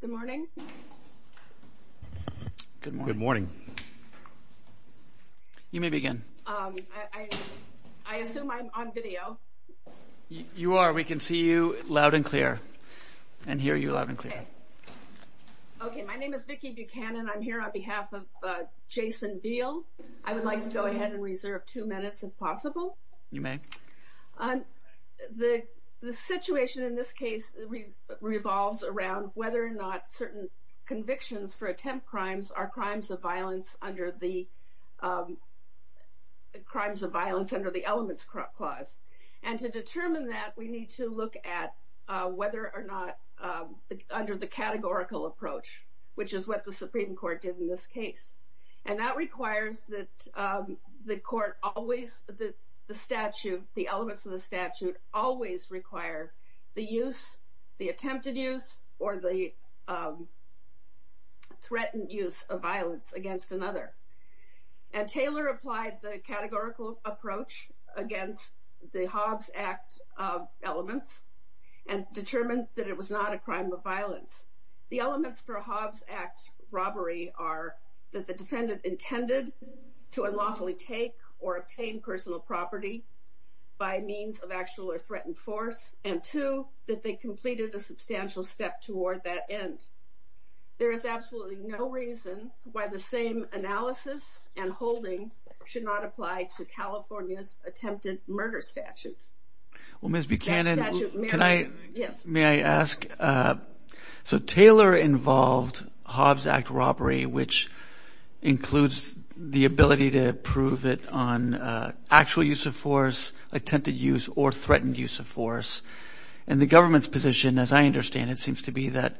Good morning, I assume I'm on video. You are, we can see you loud and clear and hear you loud and clear. Okay, my name is Vicki Buchanan. I'm here on behalf of Jason Veal. I would like to go ahead and reserve two minutes if possible. You may. The situation in this case revolves around whether or not certain convictions for attempt crimes are crimes of violence under the elements clause, and to determine that we need to look at whether or not under the categorical approach, which is what the Supreme Court did in this case. And that requires that the court always the statute, the elements of the statute always require the use, the attempted use or the threatened use of violence against another. And Taylor applied the categorical approach against the Hobbs Act elements and determined that it was not a crime of violence. The elements for Hobbs Act robbery are that the defendant intended to unlawfully take or obtain personal property by means of actual or threatened force, and two, that they completed a substantial step toward that end. There is absolutely no reason why the same analysis and holding should not apply to California's attempted murder statute. Ms. Buchanan, may I ask, so Taylor involved Hobbs Act robbery, which includes the ability to prove it on actual use of force, attempted use or threatened use of force. And the government's position, as I understand it, seems to be that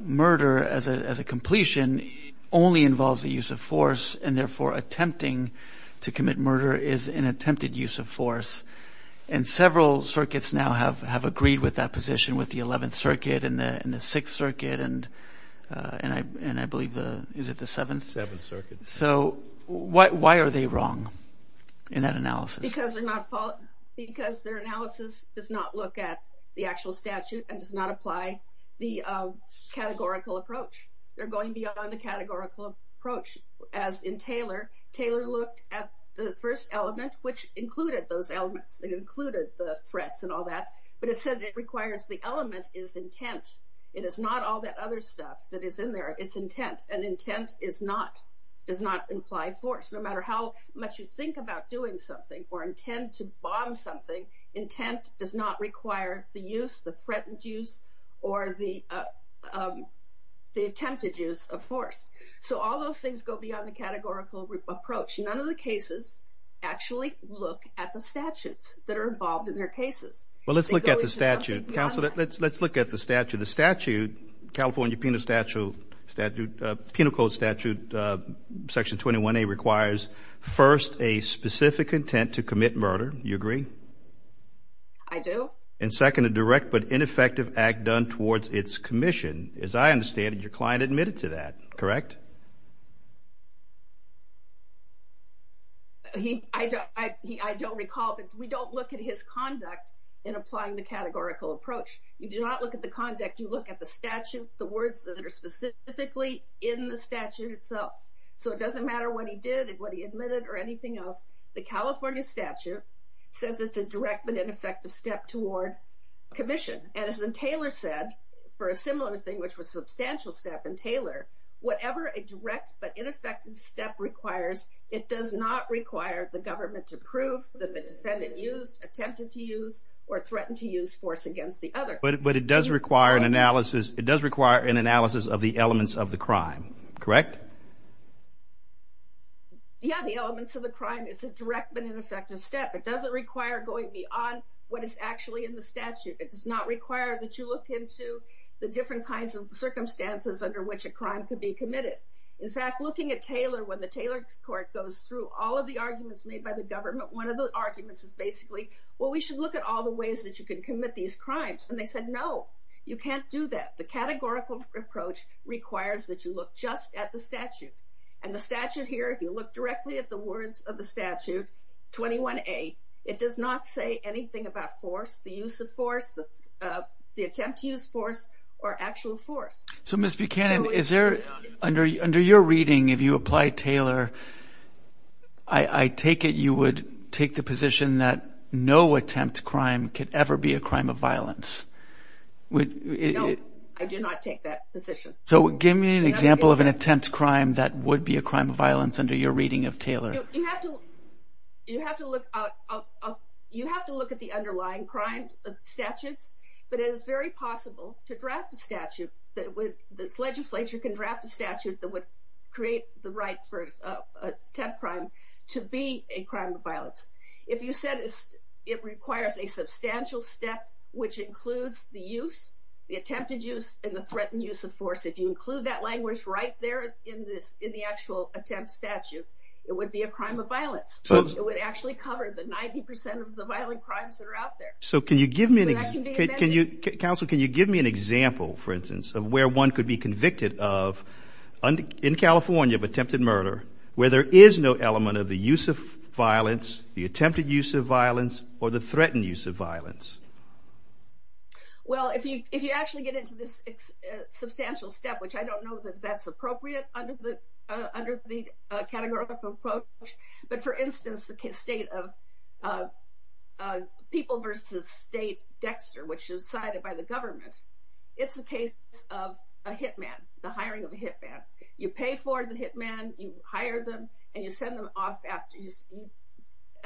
murder as a completion only involves the use of force and therefore attempting to commit murder is an attempted use of force. And several circuits now have agreed with that position with the 11th Circuit and the 6th Circuit and I believe, is it the 7th? 7th Circuit. So why are they wrong in that analysis? Because their analysis does not look at the actual statute and does not apply the categorical approach. They're going beyond the categorical approach. As in Taylor, Taylor looked at the first element, which included those elements. It included the threats and all that. But it said it requires the element is intent. It is not all that other stuff that is in there. It's intent. And intent does not imply force. No matter how much you think about doing something or intend to bomb something, intent does not require the use, the threatened use, or the attempted use of force. So all those things go beyond the categorical approach. None of the cases actually look at the statutes that are involved in their cases. Well, let's look at the statute, counsel. Let's look at the statute. California Penal Code Statute Section 21A requires, first, a specific intent to commit murder. Do you agree? I do. And second, a direct but ineffective act done towards its commission. As I understand it, your client admitted to that, correct? I don't recall, but we don't look at his conduct in applying the categorical approach. You do not look at the conduct. You look at the statute, the words that are specifically in the statute itself. So it doesn't matter what he did and what he admitted or anything else. The California statute says it's a direct but ineffective step toward commission. And as Taylor said, for a similar thing which was substantial step in Taylor, whatever a direct but ineffective step requires, it does not require the government to prove that the defendant used, But it does require an analysis of the elements of the crime, correct? Yeah, the elements of the crime is a direct but ineffective step. It doesn't require going beyond what is actually in the statute. It does not require that you look into the different kinds of circumstances under which a crime could be committed. In fact, looking at Taylor, when the Taylor court goes through all of the arguments made by the government, one of the arguments is basically, well, we should look at all the ways that you can commit these crimes. And they said, no, you can't do that. The categorical approach requires that you look just at the statute. And the statute here, if you look directly at the words of the statute, 21A, it does not say anything about force, the use of force, the attempt to use force, or actual force. So Ms. Buchanan, under your reading, if you apply Taylor, I take it you would take the position that no attempt to crime could ever be a crime of violence. No, I do not take that position. So give me an example of an attempt to crime that would be a crime of violence under your reading of Taylor. You have to look at the underlying crime statutes, but it is very possible to draft a statute that would, this legislature can draft a statute that would create the right for an attempt crime to be a crime of violence. If you said it requires a substantial step, which includes the use, the attempted use, and the threatened use of force, if you include that language right there in the actual attempt statute, it would be a crime of violence. It would actually cover the 90% of the violent crimes that are out there. So can you give me an example, for instance, of where one could be convicted of, in California, of attempted murder, where there is no element of the use of violence, the attempted use of violence, or the threatened use of violence. Well, if you actually get into this substantial step, which I don't know that that's appropriate under the categorical approach, but for instance, the state of people versus state Dexter, which is decided by the government, it's the case of a hitman, the hiring of a hitman. You pay for the hitman, you hire them, and you send them off after, you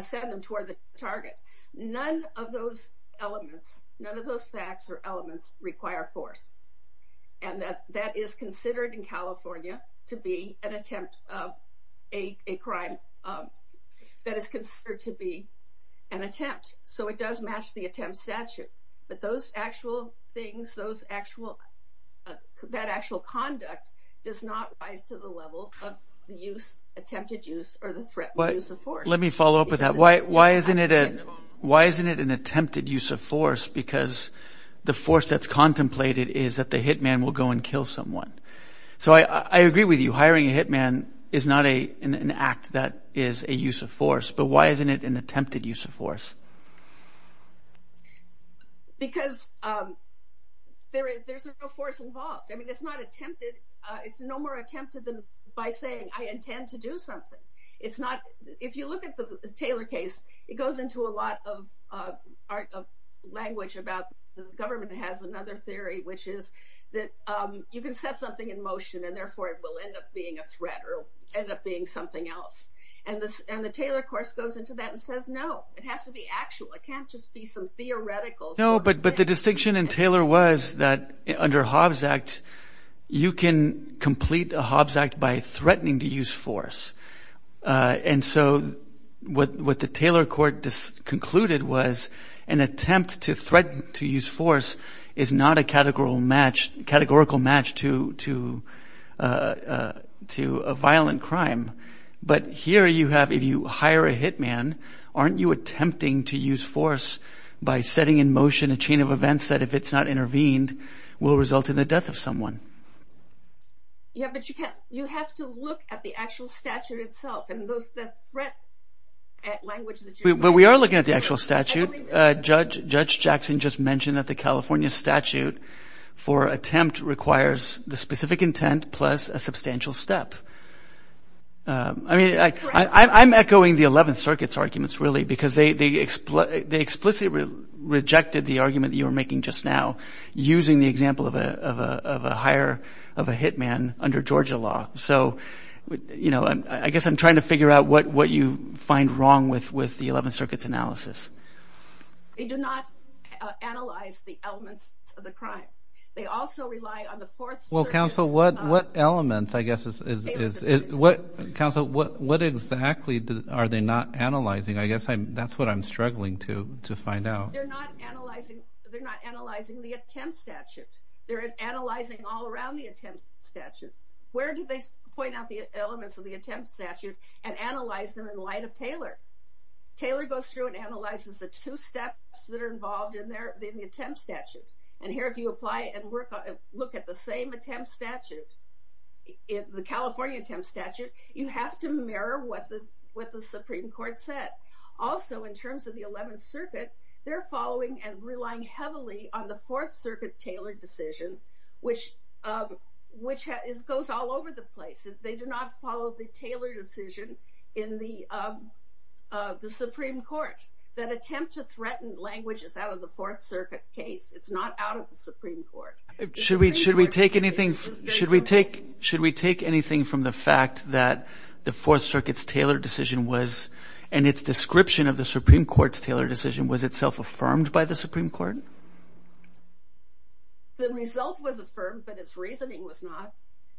send them toward the target. None of those elements, none of those facts or elements require force. And that is considered in California to be an attempt, a crime that is considered to be an attempt. So it does match the attempt statute. But those actual things, that actual conduct does not rise to the level of the attempted use or the threatened use of force. Let me follow up with that. Why isn't it an attempted use of force? Because the force that's contemplated is that the hitman will go and kill someone. So I agree with you, hiring a hitman is not an act that is a use of force. But why isn't it an attempted use of force? Because there's no force involved. I mean, it's not attempted. It's no more attempted than by saying, I intend to do something. If you look at the Taylor case, it goes into a lot of language about the government has another theory, which is that you can set something in motion and therefore it will end up being a threat or end up being something else. And the Taylor course goes into that and says, no, it has to be actual. It can't just be some theoretical. No, but the distinction in Taylor was that under Hobbs Act, you can complete a Hobbs Act by threatening to use force. And so what the Taylor court concluded was an attempt to threaten to use force is not a categorical match to a violent crime. But here you have, if you hire a hitman, aren't you attempting to use force by setting in motion a chain of events that, if it's not intervened, will result in the death of someone? Yeah, but you have to look at the actual statute itself. But we are looking at the actual statute. Judge Jackson just mentioned that the California statute for attempt requires the specific intent plus a substantial step. I mean, I'm echoing the Eleventh Circuit's arguments, really, because they explicitly rejected the argument you were making just now using the example of a hire of a hitman under Georgia law. So, you know, I guess I'm trying to figure out what you find wrong with the Eleventh Circuit's analysis. They do not analyze the elements of the crime. They also rely on the Fourth Circuit's... Well, counsel, what elements, I guess, is... Counsel, what exactly are they not analyzing? I guess that's what I'm struggling to find out. They're not analyzing the attempt statute. They're analyzing all around the attempt statute. Where do they point out the elements of the attempt statute and analyze them in light of Taylor? Taylor goes through and analyzes the two steps that are involved in the attempt statute. And here, if you apply and look at the same attempt statute, the California attempt statute, you have to mirror what the Supreme Court said. Also, in terms of the Eleventh Circuit, they're following and relying heavily on the Fourth Circuit Taylor decision, which goes all over the place. They do not follow the Taylor decision in the Supreme Court. That attempt to threaten language is out of the Fourth Circuit case. It's not out of the Supreme Court. Should we take anything from the fact that the Fourth Circuit's Taylor decision was, and its description of the Supreme Court's Taylor decision, was itself affirmed by the Supreme Court? The result was affirmed, but its reasoning was not.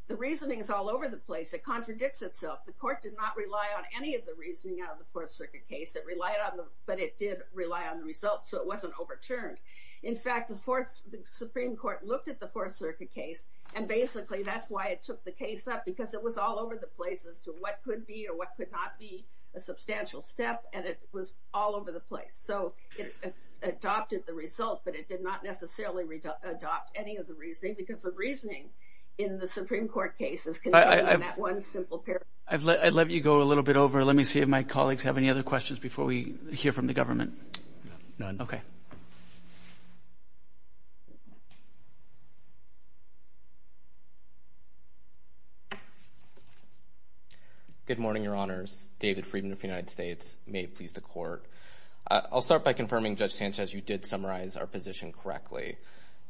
The reasoning is all over the place. It contradicts itself. The court did not rely on any of the reasoning out of the Fourth Circuit case. It relied on them, but it did rely on the results, so it wasn't overturned. In fact, the Supreme Court looked at the Fourth Circuit case, and basically that's why it took the case up, because it was all over the place as to what could be or what could not be a substantial step, and it was all over the place. So it adopted the result, but it did not necessarily adopt any of the reasoning, because the reasoning in the Supreme Court case is contained in that one simple paragraph. I'd let you go a little bit over. Let me see if my colleagues have any other questions before we hear from the government. None. Okay. Good morning, Your Honors. David Friedman of the United States. May it please the Court. I'll start by confirming, Judge Sanchez, you did summarize our position correctly.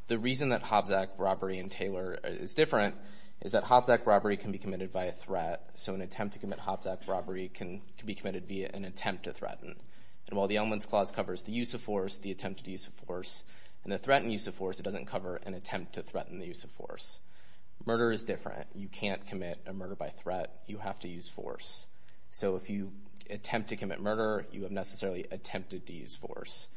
The reason that Hobbs Act robbery and Taylor is different is that Hobbs Act robbery can be committed by a threat, so an attempt to commit Hobbs Act robbery can be committed via an attempt to threaten. And while the elements clause covers the use of force, the attempted use of force, and the threatened use of force, it doesn't cover an attempt to threaten the use of force. Murder is different. You can't commit a murder by threat. You have to use force. So if you attempt to commit murder, you have necessarily attempted to use force,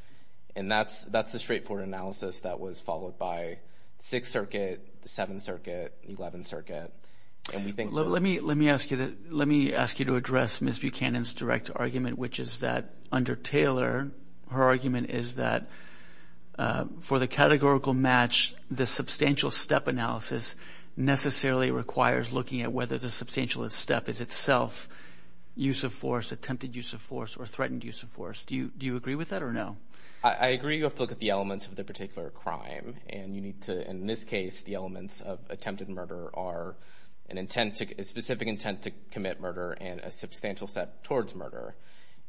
and that's the straightforward analysis that was followed by Sixth Circuit, Seventh Circuit, Eleventh Circuit. Let me ask you to address Ms. Buchanan's direct argument, which is that under Taylor, her argument is that for the categorical match, the substantial step analysis necessarily requires looking at whether the substantial step is itself use of force, attempted use of force, or threatened use of force. Do you agree with that or no? I agree you have to look at the elements of the particular crime, and you need to, in this case, the elements of attempted murder are a specific intent to commit murder and a substantial step towards murder.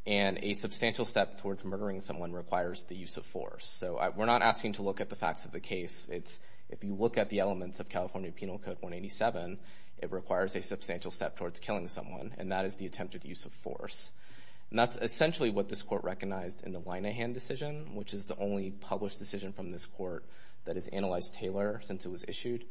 And a substantial step towards murdering someone requires the use of force. So we're not asking you to look at the facts of the case. If you look at the elements of California Penal Code 187, it requires a substantial step towards killing someone, and that is the attempted use of force. And that's essentially what this court recognized in the Winahan decision, which is the only published decision from this court that has analyzed Taylor since it was issued.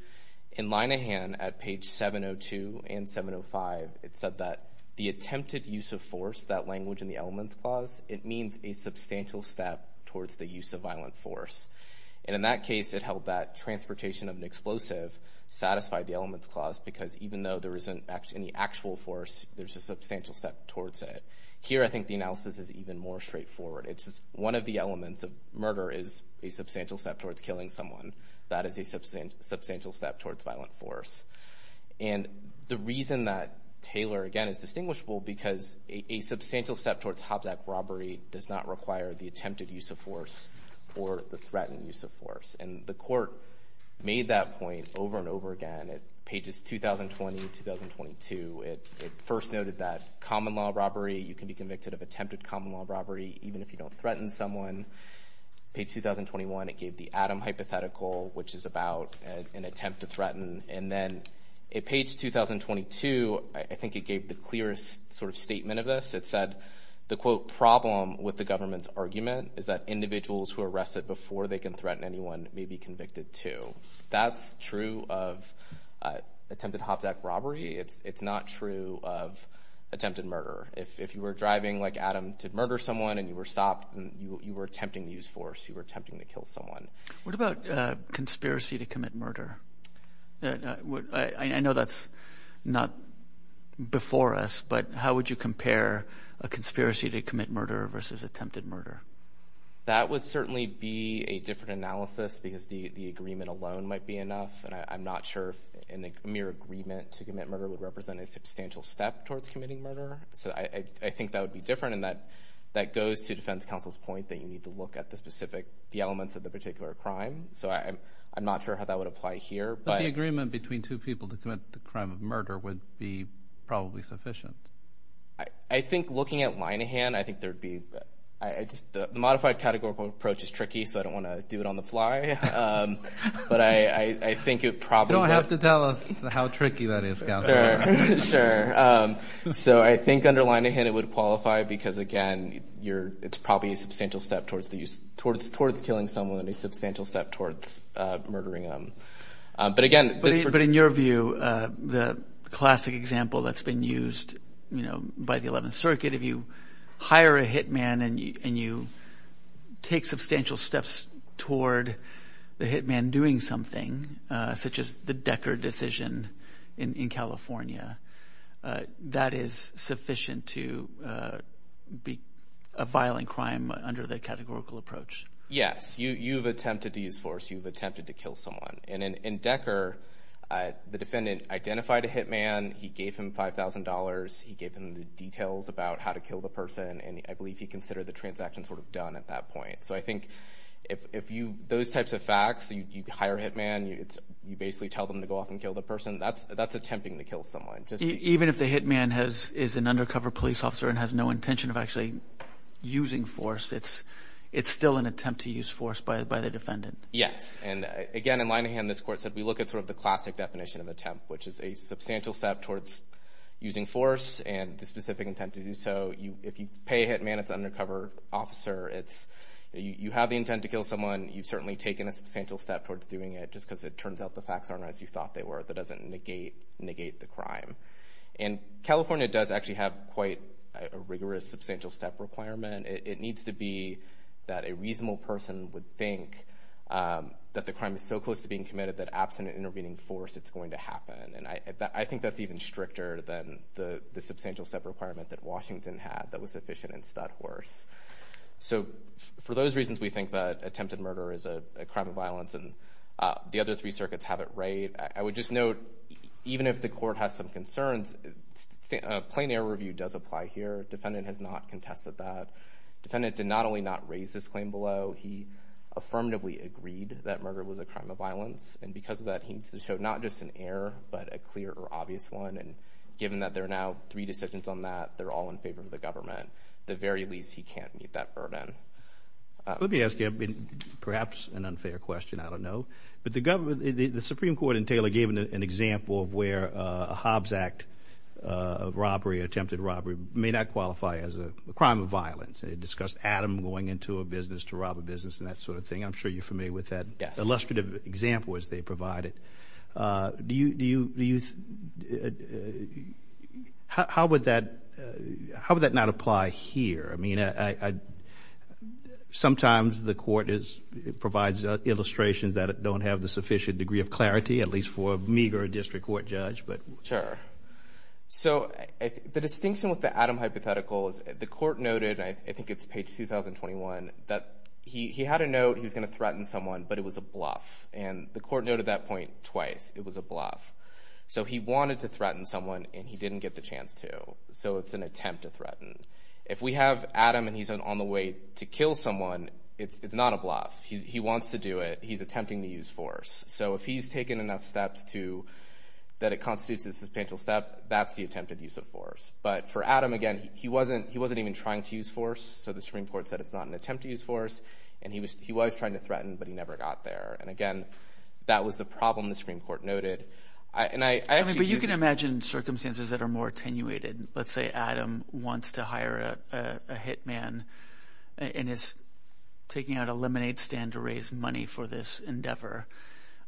In Winahan, at page 702 and 705, it said that the attempted use of force, that language in the elements clause, it means a substantial step towards the use of violent force. And in that case, it held that transportation of an explosive satisfied the elements clause because even though there isn't any actual force, there's a substantial step towards it. Here, I think the analysis is even more straightforward. It's just one of the elements of murder is a substantial step towards killing someone. That is a substantial step towards violent force. And the reason that Taylor, again, is distinguishable because a substantial step towards Hobzack robbery does not require the attempted use of force or the threatened use of force. And the court made that point over and over again at pages 2020 and 2022. It first noted that common law robbery, you can be convicted of attempted common law robbery even if you don't threaten someone. Page 2021, it gave the Adam hypothetical, which is about an attempt to threaten. And then at page 2022, I think it gave the clearest sort of statement of this. It said the, quote, problem with the government's argument is that individuals who are arrested before they can threaten anyone may be convicted too. That's true of attempted Hobzack robbery. It's not true of attempted murder. If you were driving like Adam to murder someone and you were stopped and you were attempting to use force, you were attempting to kill someone. What about conspiracy to commit murder? I know that's not before us, but how would you compare a conspiracy to commit murder versus attempted murder? That would certainly be a different analysis because the agreement alone might be enough. And I'm not sure if a mere agreement to commit murder would represent a substantial step towards committing murder. So I think that would be different. And that goes to defense counsel's point that you need to look at the specific elements of the particular crime. So I'm not sure how that would apply here. But the agreement between two people to commit the crime of murder would be probably sufficient. I think looking at line of hand, I think there would be – the modified categorical approach is tricky, so I don't want to do it on the fly. But I think it probably – You don't have to tell us how tricky that is, counsel. Sure. So I think under line of hand it would qualify because, again, it's probably a substantial step towards killing someone and a substantial step towards murdering them. But, again – But in your view, the classic example that's been used by the 11th Circuit, if you hire a hitman and you take substantial steps toward the hitman doing something, such as the Decker decision in California, that is sufficient to be a violent crime under the categorical approach. Yes. You've attempted to use force. You've attempted to kill someone. And in Decker, the defendant identified a hitman. He gave him $5,000. He gave him the details about how to kill the person, and I believe he considered the transaction sort of done at that point. So I think if you – those types of facts, you hire a hitman, you basically tell them to go off and kill the person, that's attempting to kill someone. Even if the hitman is an undercover police officer and has no intention of actually using force, it's still an attempt to use force by the defendant. Yes. And, again, in line of hand, this court said we look at sort of the classic definition of attempt, which is a substantial step towards using force and the specific intent to do so. If you pay a hitman, it's an undercover officer. You have the intent to kill someone. You've certainly taken a substantial step towards doing it just because it turns out the facts aren't as you thought they were. That doesn't negate the crime. And California does actually have quite a rigorous substantial step requirement. It needs to be that a reasonable person would think that the crime is so close to being committed that absent an intervening force, it's going to happen. And I think that's even stricter than the substantial step requirement that Washington had that was sufficient in Studhorse. So for those reasons we think that attempted murder is a crime of violence and the other three circuits have it right. I would just note, even if the court has some concerns, plain error review does apply here. Defendant has not contested that. Defendant did not only not raise this claim below, he affirmatively agreed that murder was a crime of violence. And because of that, he needs to show not just an error but a clear or obvious one. And given that there are now three decisions on that, they're all in favor of the government. At the very least, he can't meet that burden. Let me ask you perhaps an unfair question. I don't know. But the Supreme Court in Taylor gave an example of where a Hobbs Act robbery, attempted robbery, may not qualify as a crime of violence. It discussed Adam going into a business to rob a business and that sort of thing. I'm sure you're familiar with that illustrative example as they provide it. How would that not apply here? Sometimes the court provides illustrations that don't have the sufficient degree of clarity, at least for a meager district court judge. Sure. So the distinction with the Adam hypothetical is the court noted, I think it's page 2021, that he had a note he was going to threaten someone but it was a bluff. And the court noted that point twice. It was a bluff. So he wanted to threaten someone and he didn't get the chance to. So it's an attempt to threaten. If we have Adam and he's on the way to kill someone, it's not a bluff. He wants to do it. He's attempting to use force. So if he's taken enough steps that it constitutes a substantial step, that's the attempted use of force. But for Adam, again, he wasn't even trying to use force. So the Supreme Court said it's not an attempt to use force. And he was trying to threaten but he never got there. And, again, that was the problem the Supreme Court noted. But you can imagine circumstances that are more attenuated. Let's say Adam wants to hire a hitman and is taking out a lemonade stand to raise money for this endeavor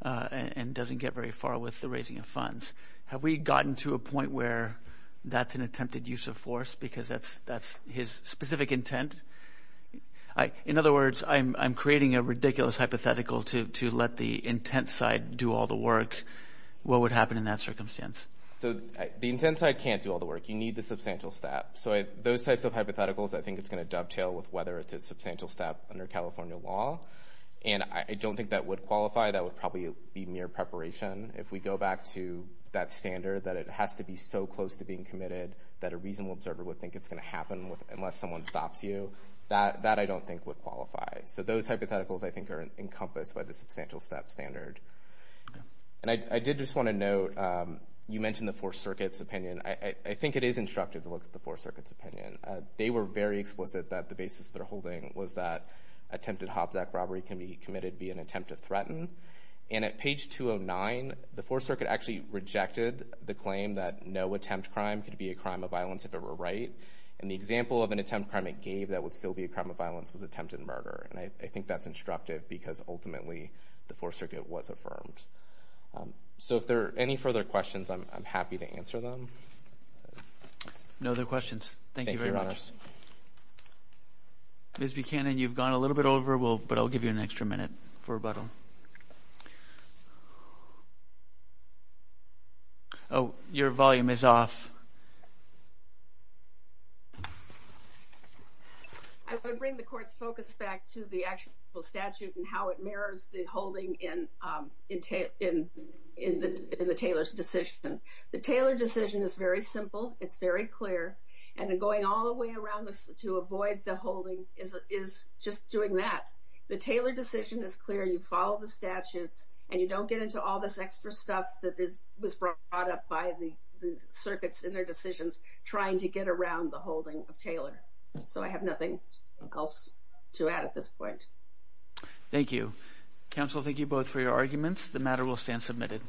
and doesn't get very far with the raising of funds. Have we gotten to a point where that's an attempted use of force because that's his specific intent? In other words, I'm creating a ridiculous hypothetical to let the intent side do all the work. What would happen in that circumstance? So the intent side can't do all the work. You need the substantial step. So those types of hypotheticals I think it's going to dovetail with whether it's a substantial step under California law. And I don't think that would qualify. That would probably be mere preparation. If we go back to that standard that it has to be so close to being committed that a reasonable observer would think it's going to happen unless someone stops you, that I don't think would qualify. So those hypotheticals I think are encompassed by the substantial step standard. And I did just want to note, you mentioned the Fourth Circuit's opinion. I think it is instructive to look at the Fourth Circuit's opinion. They were very explicit that the basis they're holding was that attempted Hobsack robbery can be committed via an attempt to threaten. And at page 209, the Fourth Circuit actually rejected the claim that no attempt crime could be a crime of violence if it were right. And the example of an attempt crime it gave that would still be a crime of violence was attempted murder. And I think that's instructive because ultimately the Fourth Circuit was affirmed. So if there are any further questions, I'm happy to answer them. No other questions. Thank you very much. Ms. Buchanan, you've gone a little bit over, but I'll give you an extra minute for rebuttal. Oh, your volume is off. I would bring the court's focus back to the actual statute and how it mirrors the holding in the Taylor's decision. The Taylor decision is very simple. It's very clear. And going all the way around to avoid the holding is just doing that. The Taylor decision is clear. You follow the statutes, and you don't get into all this extra stuff that was brought up by the circuits in their decisions trying to get around the holding of Taylor. So I have nothing else to add at this point. Thank you. Counsel, thank you both for your arguments. The matter will stand submitted.